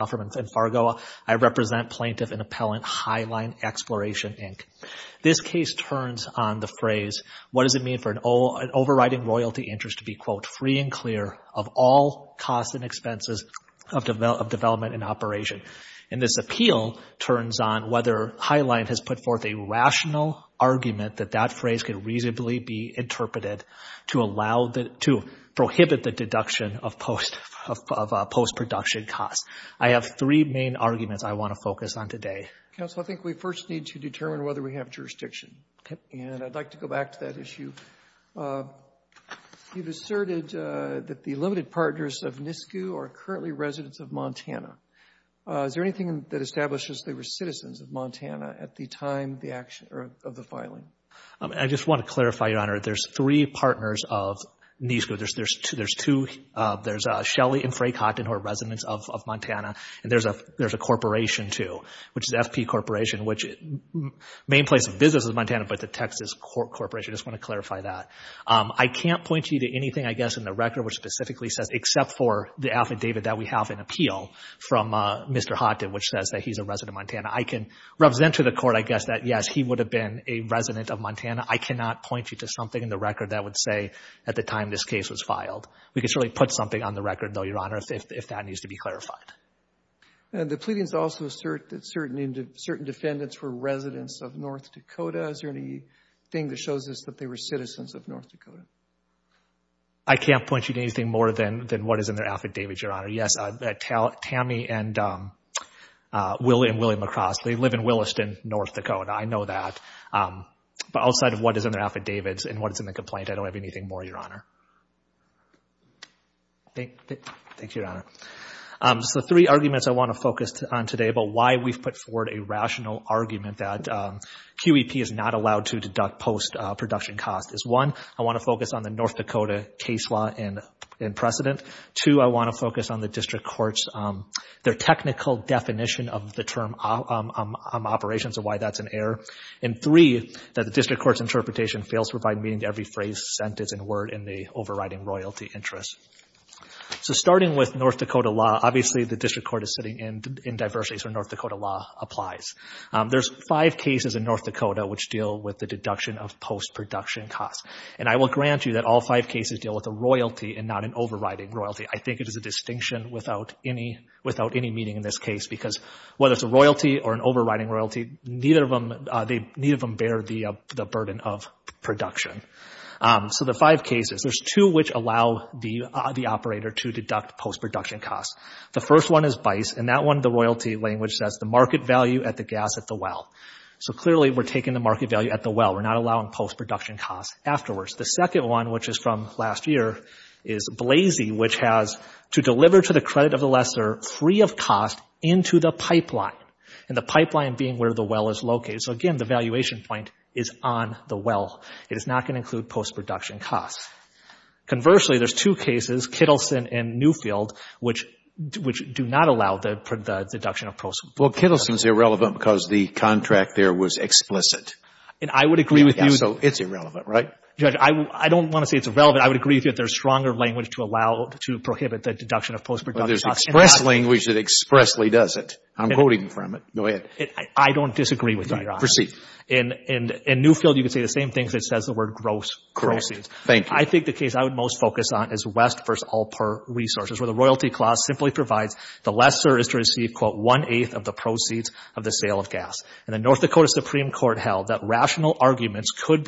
and Fargo, I represent Plaintiff and Appellant Highline Exploration, Inc. This case turns on the phrase, what does it mean for an overriding royalty interest to be, quote, free and clear of all costs and expenses of development and operation. And this appeal turns on whether Highline has put forth a rational argument that that phrase could reasonably be interpreted to allow the, to prohibit the deduction of post production costs. I have three main arguments I want to focus on today. Counsel, I think we first need to determine whether we have jurisdiction and I'd like to go back to that issue. You've asserted that the limited partners of NISCU are currently residents of Montana. Is there anything that establishes they were citizens of Montana at the time of the filing? I just want to clarify, Your Honor, there's three partners of NISCU. There's two, there's Shelly and Frank Hotten who are residents of Montana and there's a corporation too, which is FP Corporation, which main place of business is Montana, but the Texas Corporation. I just want to clarify that. I can't point you to anything, I guess, in the record which specifically says, except for the affidavit that we have in appeal from Mr. Hotten, which says that he's a resident of Montana. I can represent to the court, I guess, that yes, he would have been a resident of Montana. I cannot point you to something in the record that would say at the time this case was filed. We could certainly put something on the record though, Your Honor, if that needs to be clarified. The pleadings also assert that certain defendants were residents of North Dakota. Is there anything that shows us that they were citizens of North Dakota? I can't point you to anything more than what is in their affidavit, Your Honor. Yes, Tammy and William McCross, they live in Williston, North Dakota. I know that. But outside of what is in their affidavits and what is in the complaint, I don't have anything more, Your Honor. Thank you, Your Honor. The three arguments I want to focus on today about why we've put forward a rational argument that QEP is not allowed to deduct post-production costs is one, I want to focus on the North Dakota case law and precedent. Two, I want to focus on the district court's, their technical definition of the term operations and why that's an error. And three, that the district court's interpretation fails to provide meaning to every phrase, sentence, and word in the overriding royalty interest. So starting with North Dakota law, obviously the district court is sitting in diversity, so North Dakota law applies. There's five cases in North Dakota which deal with the deduction of post-production costs. And I will grant you that all five cases deal with a royalty and not an overriding royalty. I think it is a distinction without any meaning in this case because whether it's a royalty or an overriding royalty, neither of them bear the burden of production. So the five cases, there's two which allow the operator to deduct post-production costs. The first one is BICE and that one, the royalty language says the market value at the gas at the well. So clearly we're taking the market value at the well. We're not allowing post-production costs afterwards. The second one, which is from last year, is Blazey, which has to deliver to the credit of the lesser free of cost into the pipeline. And the pipeline being where the well is located. So again, the valuation point is on the well. It is not going to include post-production costs. Conversely, there's two cases, Kittleson and Newfield, which do not allow the deduction of post-production costs. Well, Kittleson is irrelevant because the contract there was explicit. And I would agree with you. Yeah, so it's irrelevant, right? Judge, I don't want to say it's irrelevant. I would agree with you that there's stronger language to allow, to prohibit the deduction of post-production costs. But there's express language that expressly does it. I'm quoting from it. I don't disagree with you, Your Honor. Proceed. In Newfield, you could say the same things. It says the word gross proceeds. Correct, thank you. I think the case I would most focus on is West v. All Purr Resources, where the royalty clause simply provides the lesser is to receive, quote, one-eighth of the proceeds of the sale of gas. And the North Dakota Supreme Court held that rational arguments could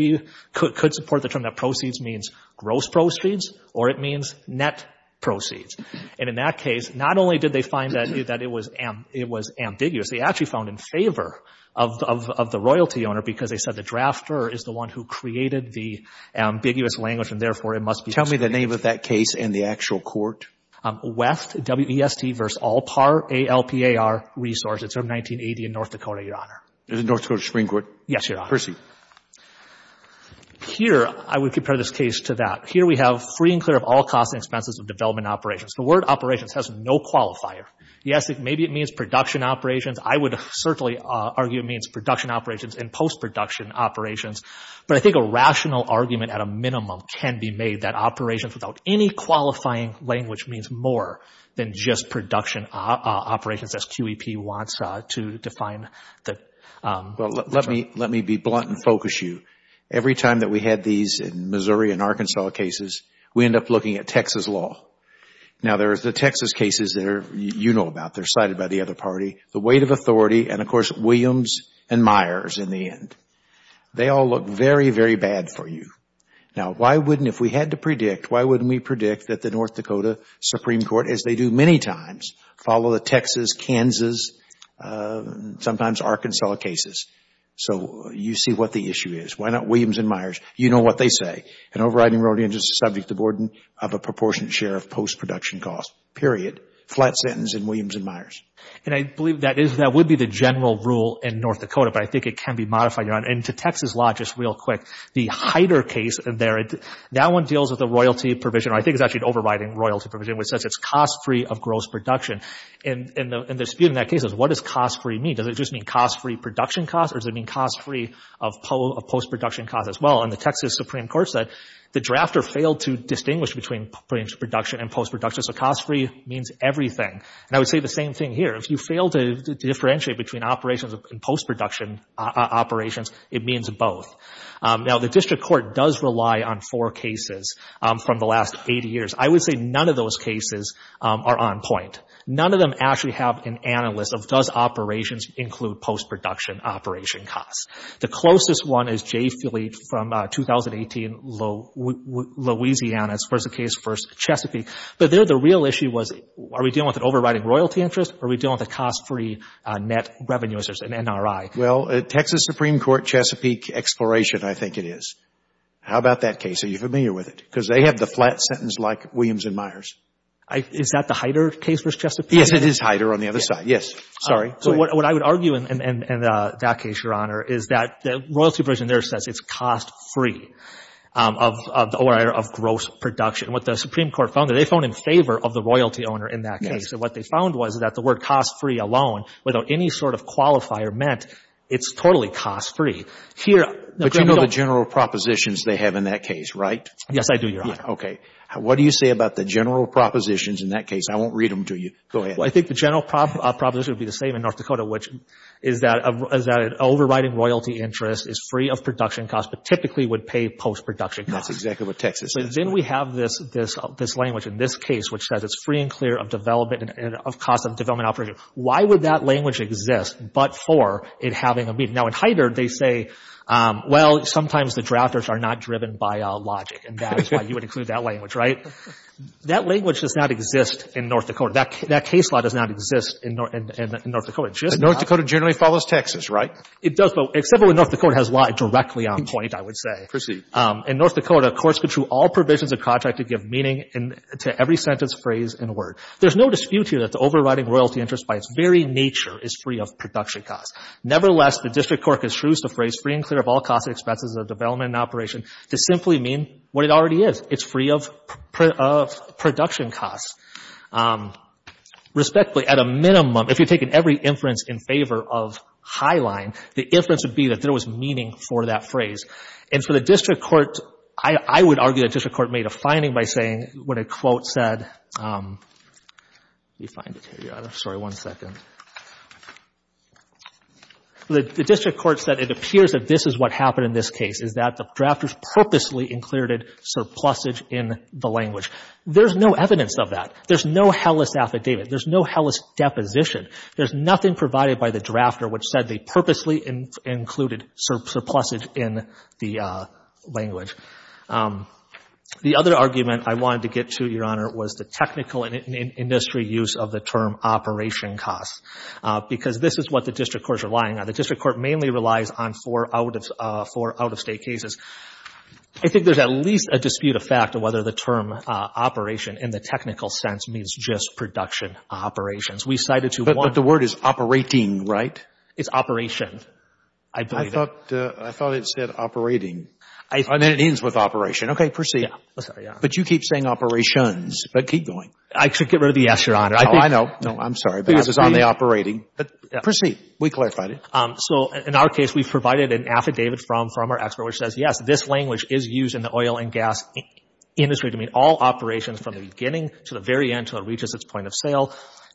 support the term that proceeds means gross proceeds or it means net proceeds. And in that case, not only did they find that it was ambiguous, they actually found in favor of the royalty owner because they said the drafter is the one who created the ambiguous language, and therefore, it must be Tell me the name of that case and the actual court. West, W-E-S-T v. All Purr, A-L-P-A-R Resources from 1980 in North Dakota, Your Honor. Is it North Dakota Supreme Court? Yes, Your Honor. Proceed. Here, I would compare this case to that. Here we have free and clear of all costs and expenses of development operations. The word operations has no qualifier. Yes, maybe it means production operations. I would certainly argue it means production operations and post-production operations. But I think a rational argument at a minimum can be made that operations without any qualifying language means more than just production operations as QEP wants to define. Well, let me be blunt and focus you. Every time that we had these in Missouri and Arkansas cases, we end up looking at Texas law. Now, there's the Texas cases that you know about. They're cited by the other party. The weight of authority and, of course, Williams and Myers in the end. They all look very, very bad for you. Now, why wouldn't, if we had to predict, why wouldn't we predict that the North Dakota Supreme Court, as they do many times, follow the Texas, Kansas, sometimes Arkansas cases? So, you see what the issue is. Why not Williams and Myers? You know what they say. An overriding rodent is a subject of a proportionate share of post-production costs, period, flat sentence in Williams and Myers. And I believe that is, that would be the general rule in North Dakota, but I think it can be modified. And to Texas law, just real quick, the Heider case there, that one deals with the royalty provision. I think it's actually overriding royalty provision, which says it's cost-free of gross production. And the dispute in that case is what does cost-free mean? Does it just mean cost-free production costs or does it mean cost-free of post-production costs as well? And the Texas Supreme Court said the drafter failed to distinguish between post-production and post-production. So, cost-free means everything. And I would say the same thing here. If you fail to differentiate between operations and post-production operations, it means both. Now, the district court does rely on four cases from the last eight years. I would say none of those cases are on point. None of them actually have an analyst of does operations include post-production operation costs. The closest one is Jay Phillippe from 2018, Louisiana's first case, first Chesapeake. But there, the real issue was are we dealing with an overriding royalty interest or are we dealing with a cost-free net revenue as an NRI? Well, Texas Supreme Court Chesapeake Exploration, I think it is. How about that case? Are you familiar with it? Because they have the flat sentence like Williams and Myers. Is that the Hyder case versus Chesapeake? Yes, it is Hyder on the other side. Yes. Sorry. So, what I would argue in that case, Your Honor, is that the royalty provision there says it's cost-free of gross production. What the Supreme Court found, they found in favor of the royalty owner in that case. So, what they found was that the word cost-free alone without any sort of qualifier meant it's totally cost-free. But you know the general propositions they have in that case, right? Yes, I do, Your Honor. Okay. What do you say about the general propositions in that case? I won't read them to you. Go ahead. Well, I think the general proposition would be the same in North Dakota, which is that an overriding royalty interest is free of production costs, but typically would pay post-production costs. That's exactly what Texas says. So, then we have this language in this case, which says it's free and clear of development and of cost of development operation. Why would that language exist but for it having a meaning? Now, in Hyder, they say, well, sometimes the drafters are not driven by logic, and that is why you would include that language, right? That language does not exist in North Dakota. That case law does not exist in North Dakota. North Dakota generally follows Texas, right? It does, but except when North Dakota has law directly on point, I would say. Proceed. In North Dakota, courts control all provisions of contract to give meaning to every sentence, phrase, and word. There's no dispute here that the overriding royalty interest by its very nature is free of production costs. Nevertheless, the district court construes the phrase free and clear of all cost and expenses of development and operation to simply mean what it already is. It's free of production costs. Respectfully, at a minimum, if you're taking every inference in favor of Highline, the inference would be that there was meaning for that phrase. And so the district court, I would argue the district court made a finding by saying when a quote said, let me find it here, sorry, one second. The district court said it appears that this is what happened in this case, is that the drafters purposely included surplusage in the language. There's no evidence of that. There's no hellish affidavit. There's no hellish deposition. There's nothing provided by the drafter which said they purposely included surplusage in the language. The other argument I wanted to get to, Your Honor, was the technical and industry use of the term operation costs, because this is what the district court is relying on. The district court mainly relies on four out-of-state cases. I think there's at least a dispute of fact of whether the term operation in the technical sense means just production operations. We cited to one. But the word is operating, right? It's operation. I thought it said operating. I mean, it ends with operation. Okay, proceed. But you keep saying operations, but keep going. I should get rid of the yes, Your Honor. Oh, I know. No, I'm sorry. Because it's on the operating. Proceed. We clarified it. So in our case, we provided an affidavit from our expert which says, yes, this language is used in the oil and gas industry to mean all operations from the beginning to the very end until it reaches its point of sale.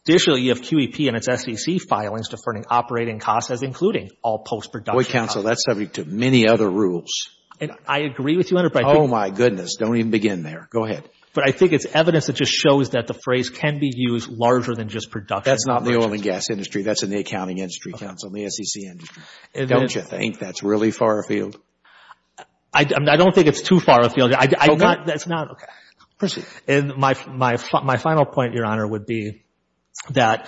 Additionally, you have QEP and its SEC filings deferring operating costs as including all post-production costs. Wait, counsel, that's subject to many other rules. And I agree with you, Your Honor, but I think... Oh, my goodness. Don't even begin there. Go ahead. But I think it's evidence that just shows that the phrase can be used larger than just production. That's not in the oil and gas industry. That's in the accounting industry, counsel, in the SEC industry. Don't you think that's really far afield? I don't think it's too far afield. Okay. That's not... Okay. Proceed. And my final point, Your Honor, would be that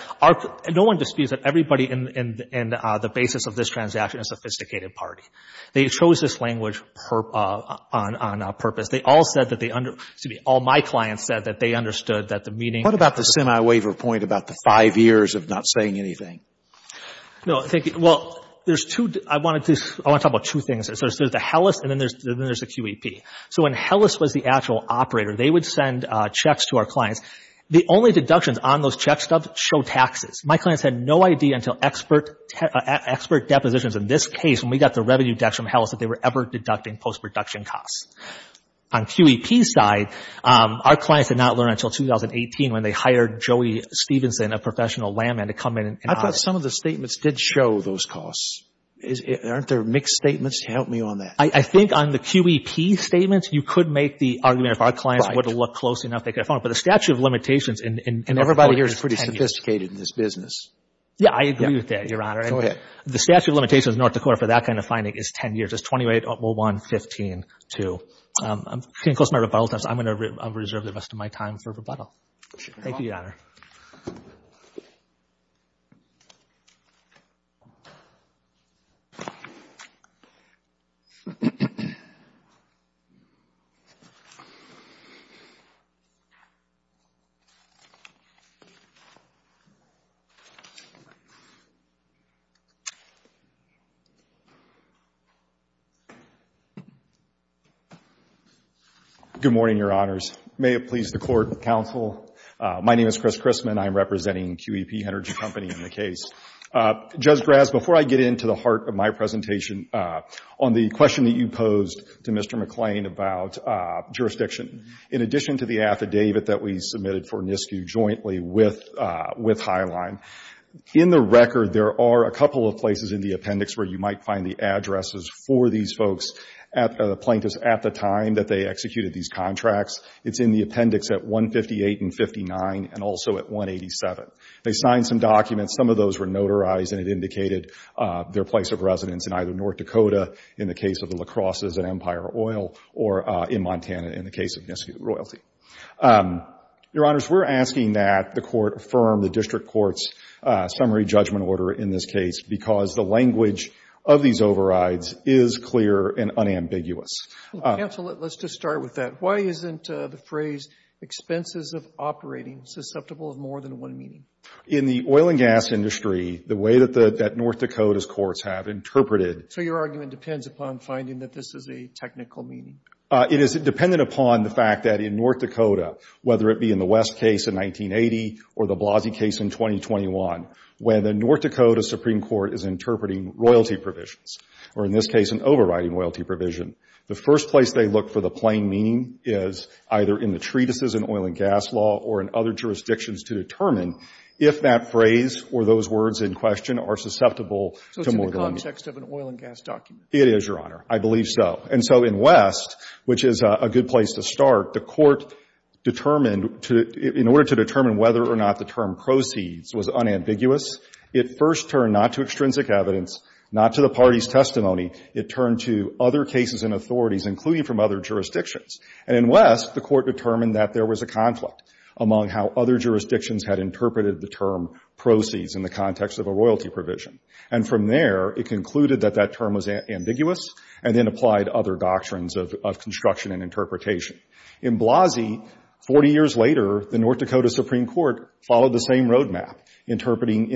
no one disputes that everybody in the basis of this transaction is a sophisticated party. They chose this language on purpose. They all said that they... Excuse me. All my clients said that they understood that the meeting... What about the semi-waiver point about the five years of not saying anything? No, I think... Well, there's two... I want to talk about two things. There's the HELLIS and then there's the QEP. So when HELLIS was the actual operator, they would send checks to our clients. The only deductions on those checks show taxes. My clients had no idea until expert depositions, in this case, when we got the revenue dex from HELLIS that they were ever deducting post-production costs. On QEP's side, our clients did not learn until 2018 when they hired Joey Stevenson, a professional landman, to come in and audit. I thought some of the statements did show those costs. Aren't there mixed statements? Help me on that. I think on the QEP statements, you could make the argument if our clients would have looked close enough, they could have found it. But the statute of limitations in... Yeah, I agree with that, Your Honor. Go ahead. The statute of limitations in North Dakota for that kind of finding is 10 years. It's 28-01-15-2. I'm getting close to my rebuttal time, so I'm going to reserve the rest of my time for rebuttal. Thank you, Your Honor. Good morning, Your Honors. May it please the court and counsel, my name is Chris Christman. I'm representing QEP Energy Company in the case. Judge Graz, before I get into the heart of my presentation, on the question that you posed to Mr. McClain about jurisdiction, in addition to the affidavit that we submitted for NISQ jointly with Highline, in the record, there are a couple of places in the appendix where you might find the addresses for these folks, the plaintiffs at the time that they executed these contracts. It's in the appendix at 158 and 59 and also at 187. They signed some documents. Some of those were notarized and it indicated their place of residence in either North Dakota in the case of the La Crosse's and Empire Oil or in Montana in the case of NISQ royalty. Your Honors, we're asking that the court affirm the district court's summary judgment order in this case because the language of these overrides is clear and unambiguous. Counsel, let's just start with that. Why isn't the phrase expenses of operating susceptible of more than one meaning? In the oil and gas industry, the way that North Dakota's courts have interpreted So your argument depends upon finding that this is a technical meaning? It is dependent upon the fact that in North Dakota, whether it be in the West case in 1980 or the Blasey case in 2021, when the North Dakota Supreme Court is interpreting royalty provisions, or in this case an overriding royalty provision, the first place they look for the plain meaning is either in the treatises in oil and gas law or in other jurisdictions to determine if that phrase or those words in question are susceptible to more than one meaning. So it's in the context of an oil and gas document? It is, Your Honor. I believe so. And so in West, which is a good place to start, the Court determined to — in order to determine whether or not the term proceeds was unambiguous, it first turned not to extrinsic evidence, not to the party's testimony. It turned to other cases and authorities, including from other jurisdictions. And in West, the Court determined that there was a conflict among how other jurisdictions had interpreted the term proceeds in the context of a royalty provision. And from there, it concluded that that term was ambiguous and then applied other doctrines of construction and interpretation. In Blasey, 40 years later, the North Dakota Supreme Court followed the same roadmap, interpreting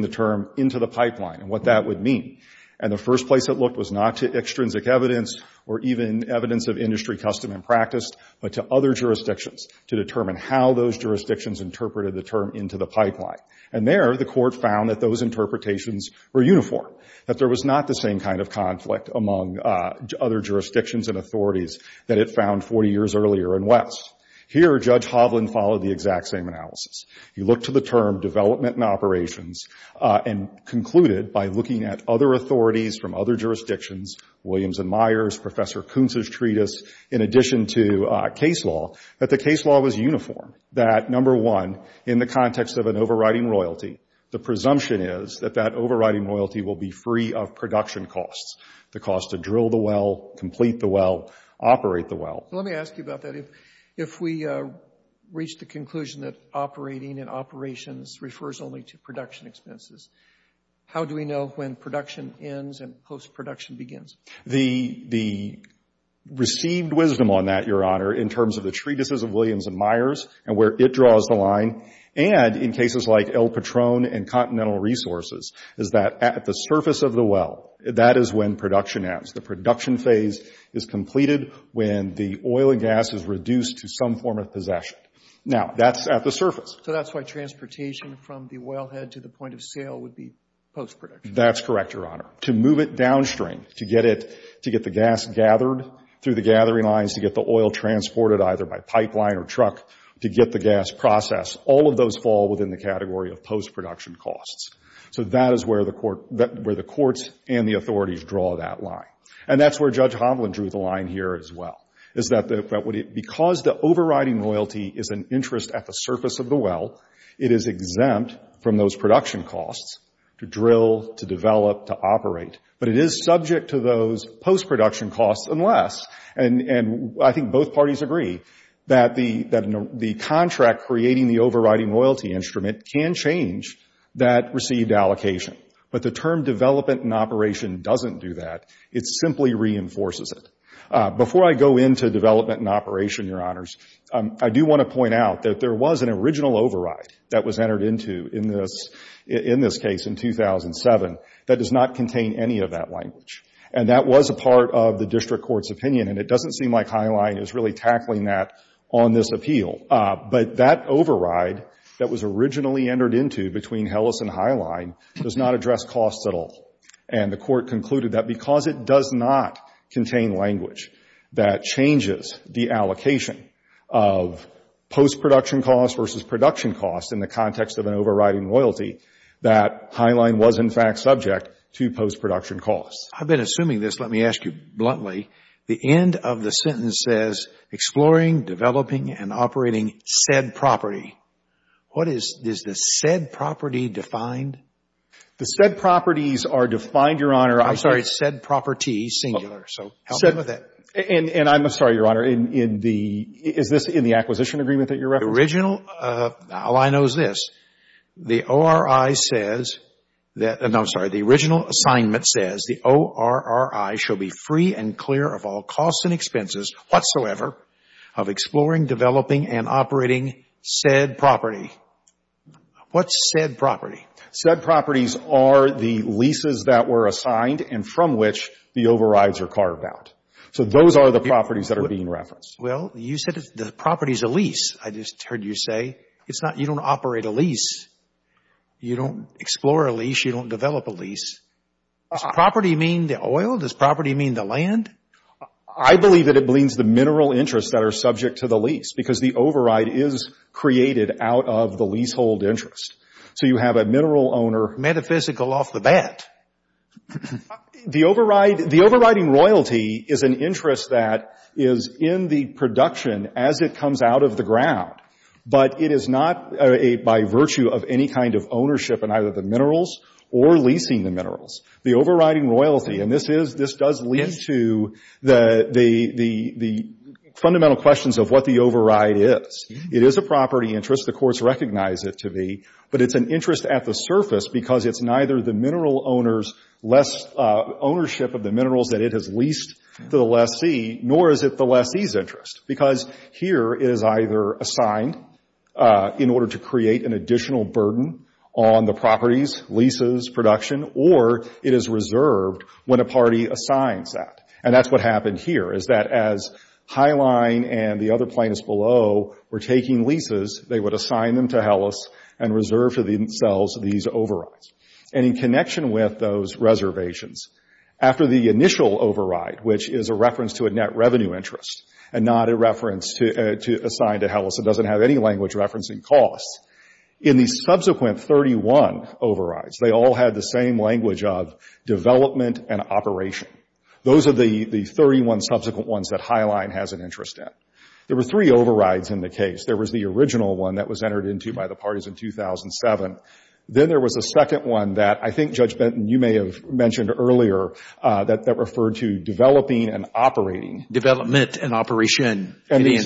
the term into the pipeline and what that would mean. And the first place it looked was not to extrinsic evidence or even evidence of industry custom and practice, but to other jurisdictions to determine how those jurisdictions interpreted the term into the pipeline. And there, the Court found that those interpretations were uniform, that there was not the same kind of conflict among other jurisdictions and authorities that it found 40 years earlier in West. Here, Judge Hovland followed the exact same analysis. He looked to the term development and operations and concluded, by looking at other authorities from other jurisdictions, Williams and Myers, Professor Kuntz's treatise, in addition to case law, that the case law was uniform. That number one, in the context of an overriding royalty, the presumption is that that overriding royalty will be free of production costs, the cost to drill the well, complete the well, operate the well. Let me ask you about that. If we reach the conclusion that operating and operations refers only to production expenses, how do we know when production ends and post-production begins? The received wisdom on that, Your Honor, in terms of the treatises of Williams and Myers and where it draws the line, and in cases like El Patron and Continental Resources, is that at the surface of the well, that is when production ends. The production phase is completed when the oil and gas is reduced to some form of possession. Now that's at the surface. So that's why transportation from the wellhead to the point of sale would be post-production? That's correct, Your Honor. To move it downstream, to get the gas gathered through the gathering lines, to get the oil transported either by pipeline or truck, to get the gas processed, all of those fall within the category of post-production costs. So that is where the courts and the authorities draw that line. And that's where Judge Hovland drew the line here as well, is that because the overriding loyalty is an interest at the surface of the well, it is exempt from those production costs to drill, to develop, to operate. But it is subject to those post-production costs unless, and I think both parties agree, that the contract creating the overriding loyalty instrument can change that received allocation. But the term development and operation doesn't do that. It simply reinforces it. Before I go into development and operation, Your Honors, I do want to point out that there was an original override that was entered into in this case in 2007 that does not contain any of that language. And that was a part of the district court's opinion, and it doesn't seem like Highline is really tackling that on this appeal. But that override that was originally entered into between Hellis and Highline does not address costs at all. And the court concluded that because it does not contain language that changes the allocation of post-production costs versus production costs in the context of an overriding loyalty, that Highline was in fact subject to post-production costs. I've been assuming this, let me ask you bluntly. The end of the sentence says, exploring, developing, and operating said property. What is, is the said property defined? The said properties are defined, Your Honor. I'm sorry, it's said property, singular, so help me with that. And I'm sorry, Your Honor, in the, is this in the acquisition agreement that you're referencing? Original, All I know is this. The ORI says that, no, I'm sorry, the original assignment says the ORI shall be free and clear of all costs and expenses whatsoever of exploring, developing, and operating said property. What's said property? Said properties are the leases that were assigned and from which the overrides are carved out. So those are the properties that are being referenced. Well, you said the property's a lease. I just heard you say, it's not, you don't operate a lease. You don't explore a lease. You don't develop a lease. Does property mean the oil? Does property mean the land? I believe that it means the mineral interests that are subject to the lease because the override is created out of the leasehold interest. So you have a mineral owner. Metaphysical off the bat. The override, the overriding royalty is an interest that is in the production as it comes out of the ground, but it is not a, by virtue of any kind of ownership in either the minerals or leasing the minerals. The overriding royalty, and this is, this does lead to the, the, the, the fundamental questions of what the override is. It is a property interest. The courts recognize it to be, but it's an interest at the surface because it's neither the mineral owner's less, ownership of the minerals that it has leased to the lessee, nor is it the lessee's interest because here it is either assigned in order to create an additional burden on the property's leases, production, or it is reserved when a party assigns that, and that's what happened here is that as Highline and the other plaintiffs below were taking leases, they would assign them to Helles and reserve for themselves these overrides. And in connection with those reservations, after the initial override, which is a reference to a net revenue interest and not a reference to, to assign to Helles, it doesn't have any language referencing costs. In the subsequent 31 overrides, they all had the same language of development and operation. Those are the, the 31 subsequent ones that Highline has an interest in. There were three overrides in the case. There was the original one that was entered into by the parties in 2007. Then there was a second one that I think Judge Benton, you may have mentioned earlier, that referred to developing and operating. Development and operation. And the,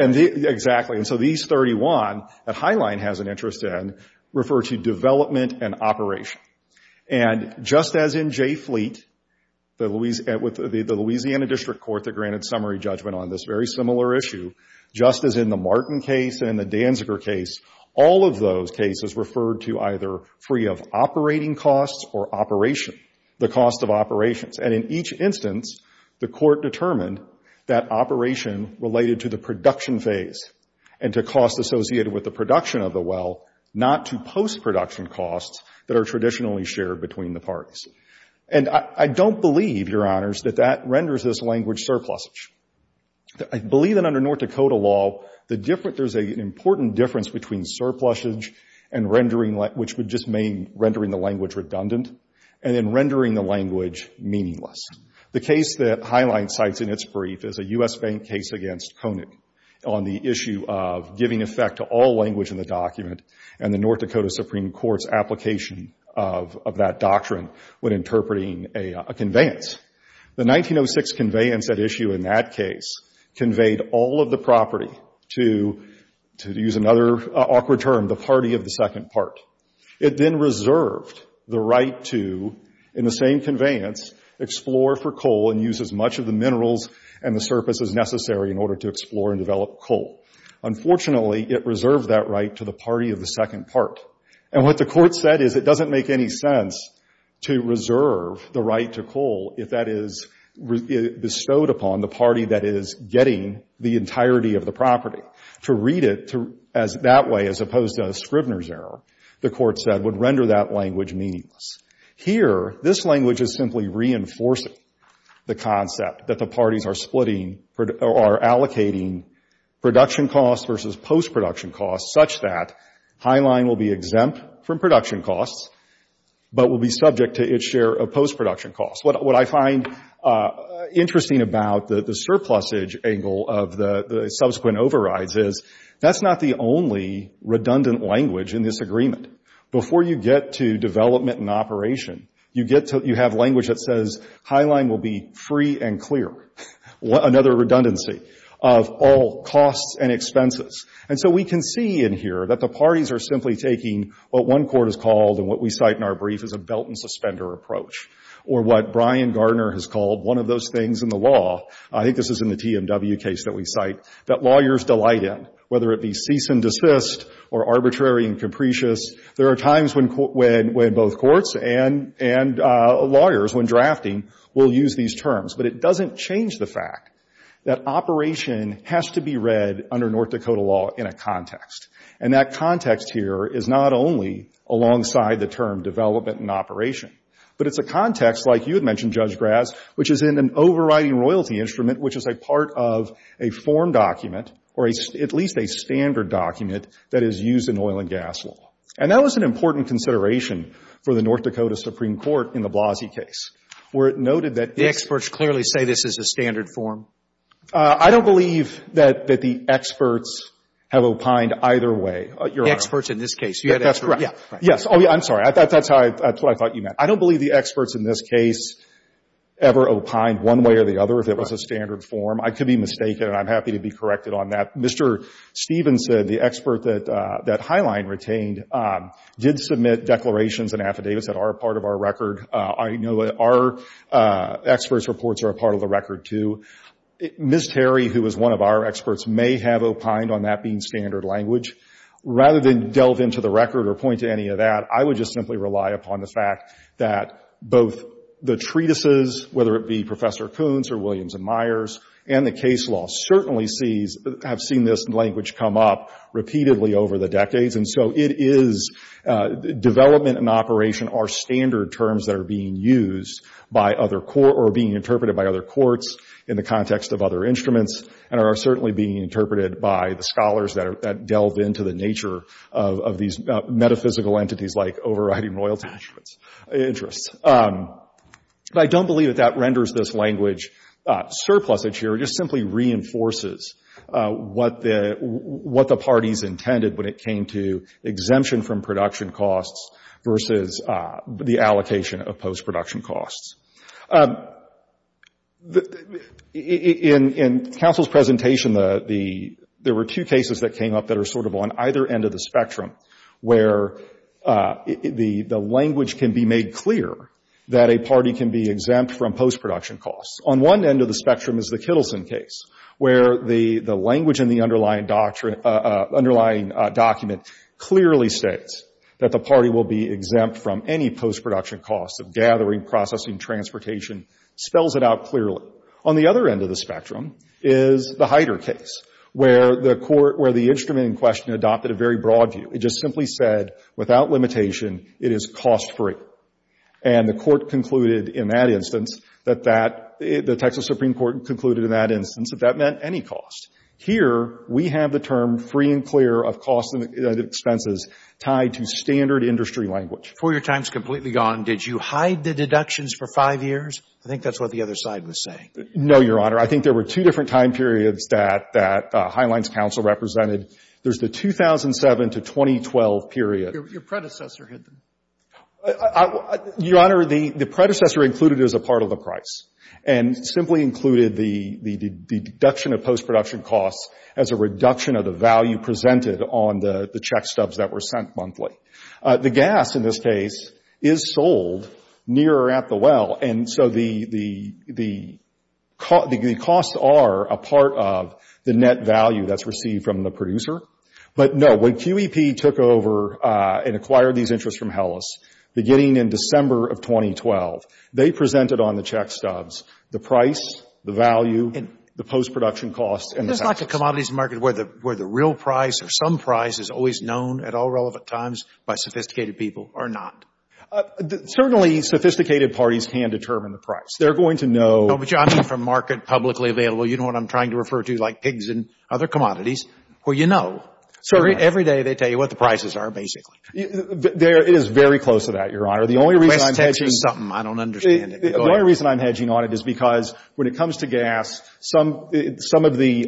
and the, exactly, and so these 31 that Highline has an interest in refer to development and operation. And just as in Jay Fleet, the Louisiana, the Louisiana District Court that granted summary judgment on this very similar issue, just as in the Martin case and the Danziger case, all of those cases referred to either free of operating costs or operation, the cost of operations. And in each instance, the court determined that operation related to the production phase and to costs associated with the production of the well, not to post-production costs that are traditionally shared between the parties. And I don't believe, Your Honors, that that renders this language surplusage. I believe that under North Dakota law, the different, there's an important difference between surplusage and rendering, which would just mean rendering the language redundant, and then rendering the language meaningless. The case that Highline cites in its brief is a U.S. Bank case against Conant on the issue of giving effect to all language in the document and the North Dakota Supreme Court's application of that doctrine when interpreting a conveyance. The 1906 conveyance at issue in that case conveyed all of the property to, to use another awkward term, the party of the second part. It then reserved the right to, in the same conveyance, explore for coal and use as much of the minerals and the surface as necessary in order to explore and develop coal. Unfortunately, it reserved that right to the party of the second part. And what the court said is it doesn't make any sense to reserve the right to coal if that is bestowed upon the party that is getting the entirety of the property. To read it that way, as opposed to a Scribner's error, the court said, would render that language meaningless. Here, this language is simply reinforcing the concept that the parties are splitting, are allocating production costs versus post-production costs such that Highline will be exempt from production costs but will be subject to its share of post-production costs. What I find interesting about the surplusage angle of the subsequent overrides is that's not the only redundant language in this agreement. Before you get to development and operation, you get to, you have language that says Highline will be free and clear, another redundancy of all costs and expenses. And so we can see in here that the parties are simply taking what one court has called and what we cite in our brief as a belt and suspender approach, or what Brian Gardner has called one of those things in the law, I think this is in the TMW case that we cite, that lawyers delight in, whether it be cease and desist or arbitrary and capricious. There are times when both courts and lawyers, when drafting, will use these terms. But it doesn't change the fact that operation has to be read under North Dakota law in a context. And that context here is not only alongside the term development and operation, but it's a context, like you had mentioned, Judge Graz, which is in an overriding royalty instrument, which is a part of a form document or at least a standard document that is used in oil and gas law. And that was an important consideration for the North Dakota Supreme Court in the Blasey case, where it noted that this — The experts clearly say this is a standard form. I don't believe that the experts have opined either way, Your Honor. The experts in this case. That's correct. Yeah. Yes. Oh, yeah. I'm sorry. That's what I thought you meant. I don't believe the experts in this case ever opined one way or the other if it was a standard form. Right. I could be mistaken, and I'm happy to be corrected on that. Mr. Stephenson, the expert that Highline retained, did submit declarations and affidavits that are a part of our record. I know that our experts' reports are a part of the record, too. Ms. Terry, who is one of our experts, may have opined on that being standard language. Rather than delve into the record or point to any of that, I would just simply rely upon the fact that both the treatises, whether it be Professor Kuntz or Williams and Myers, and the case law, certainly have seen this language come up repeatedly over the decades. It is development and operation are standard terms that are being used or being interpreted by other courts in the context of other instruments, and are certainly being interpreted by the scholars that delve into the nature of these metaphysical entities like overriding royalty interests. I don't believe that that renders this language surplusage here. It just simply reinforces what the parties intended when it came to exemption from production costs versus the allocation of post-production costs. In counsel's presentation, there were two cases that came up that are sort of on either end of the spectrum, where the language can be made clear that a party can be exempt from post-production costs. On one end of the spectrum is the Kittleson case, where the language in the underlying document clearly states that the party will be exempt from any post-production costs of gathering, processing, transportation, spells it out clearly. On the other end of the spectrum is the Hyder case, where the court, where the instrument in question adopted a very broad view. It just simply said, without limitation, it is cost-free. And the court concluded in that instance that that, the Texas Supreme Court concluded in that instance that that meant any cost. Here, we have the term free and clear of costs and expenses tied to standard industry language. Before your time is completely gone, did you hide the deductions for five years? I think that's what the other side was saying. No, Your Honor. I think there were two different time periods that Highline's counsel represented. There's the 2007 to 2012 period. Your predecessor hid them. Your Honor, the predecessor included it as a part of the price and simply included the deduction of post-production costs as a reduction of the value presented on the check stubs that were sent monthly. The gas, in this case, is sold near or at the well. And so the costs are a part of the net value that's received from the producer. But no, when QEP took over and acquired these interests from Hellas, beginning in December of 2012, they presented on the check stubs the price, the value, the post-production costs, and the taxes. It's like a commodities market where the real price or some price is always known at all relevant times by sophisticated people or not. Certainly, sophisticated parties can determine the price. They're going to know. No, but, Your Honor, I mean from market publicly available. You know what I'm trying to refer to, like pigs and other commodities, where you know. So every day they tell you what the prices are, basically. It is very close to that, Your Honor. The only reason I'm hedging on it is because when it comes to gas, some of the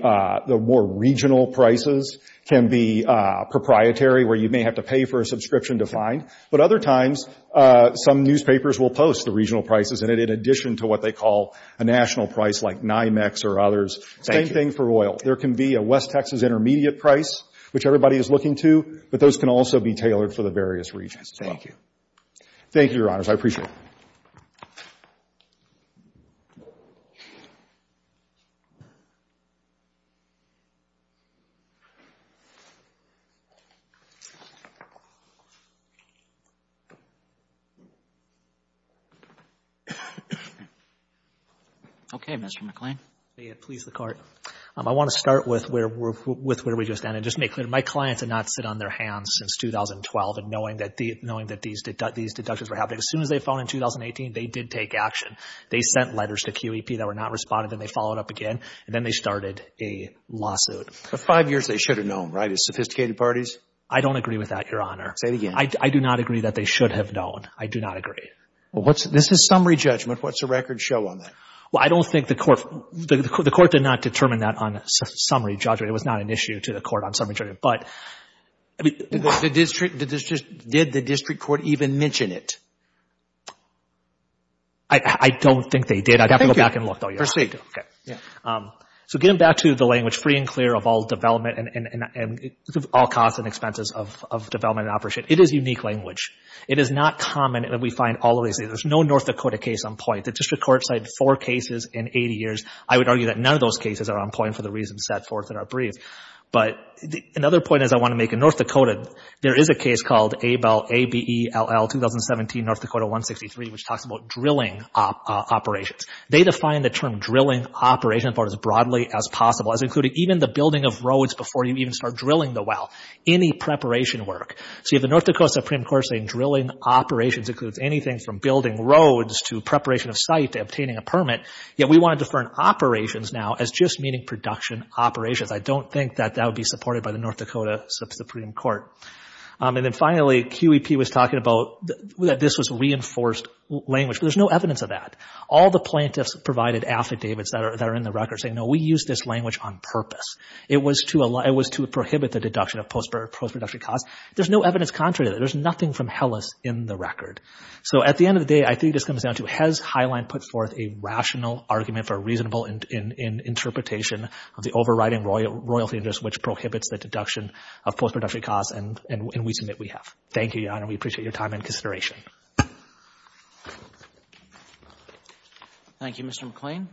more regional prices can be proprietary where you may have to pay for a subscription to find. But other times, some newspapers will post the regional prices in it in addition to what they call a national price like NYMEX or others. Same thing for oil. There can be a West Texas intermediate price, which everybody is looking to, but those can also be tailored for the various regions. Thank you. Thank you, Your Honors. I appreciate it. Okay, Mr. McClain. May it please the Court. I want to start with where we just ended. Just to make clear, my clients did not sit on their hands since 2012 and knowing that these deductions were happening. As soon as they phoned in 2018, they did take action. They sent letters to QEP that were not responded, and they followed up again, and then they started a lawsuit. For five years, they should have known, right, as sophisticated parties? I don't agree with that, Your Honor. Say it again. I do not agree that they should have known. I do not agree. Well, this is summary judgment. What's the record show on that? Well, I don't think the Court did not determine that on summary judgment. It was not an issue to the Court on summary judgment, but... Did the District Court even mention it? I don't think they did. I'd have to go back and look, though, Your Honor. Proceed. Okay. So getting back to the language, free and clear of all development and all costs and expenses of development and operation, it is unique language. It is not common that we find all of these. There's no North Dakota case on point. The District Court cited four cases in 80 years. I would argue that none of those cases are on point for the reasons set forth in our brief, but another point is I want to make. In North Dakota, there is a case called Abell, A-B-E-L-L, 2017, North Dakota 163, which talks about drilling operations. They define the term drilling operation as broadly as possible as including even the building of roads before you even start drilling the well, any preparation work. See, if the North Dakota Supreme Court is saying drilling operations includes anything from building roads to preparation of site to obtaining a permit, yet we want to defer operations now as just meaning production operations. I don't think that that would be supported by the North Dakota Supreme Court. And then finally, QEP was talking about that this was reinforced language, but there's no evidence of that. All the plaintiffs provided affidavits that are in the record saying, no, we used this language on purpose. It was to prohibit the deduction of post-production costs. There's no evidence contrary to that. There's nothing from Hellas in the record. So at the end of the day, I think this comes down to has Highline put forth a rational argument for a reasonable interpretation of the overriding royalty interest which prohibits the deduction of post-production costs, and we submit we have. Thank you, Your Honor. We appreciate your time and consideration. Thank you, Mr. McLean.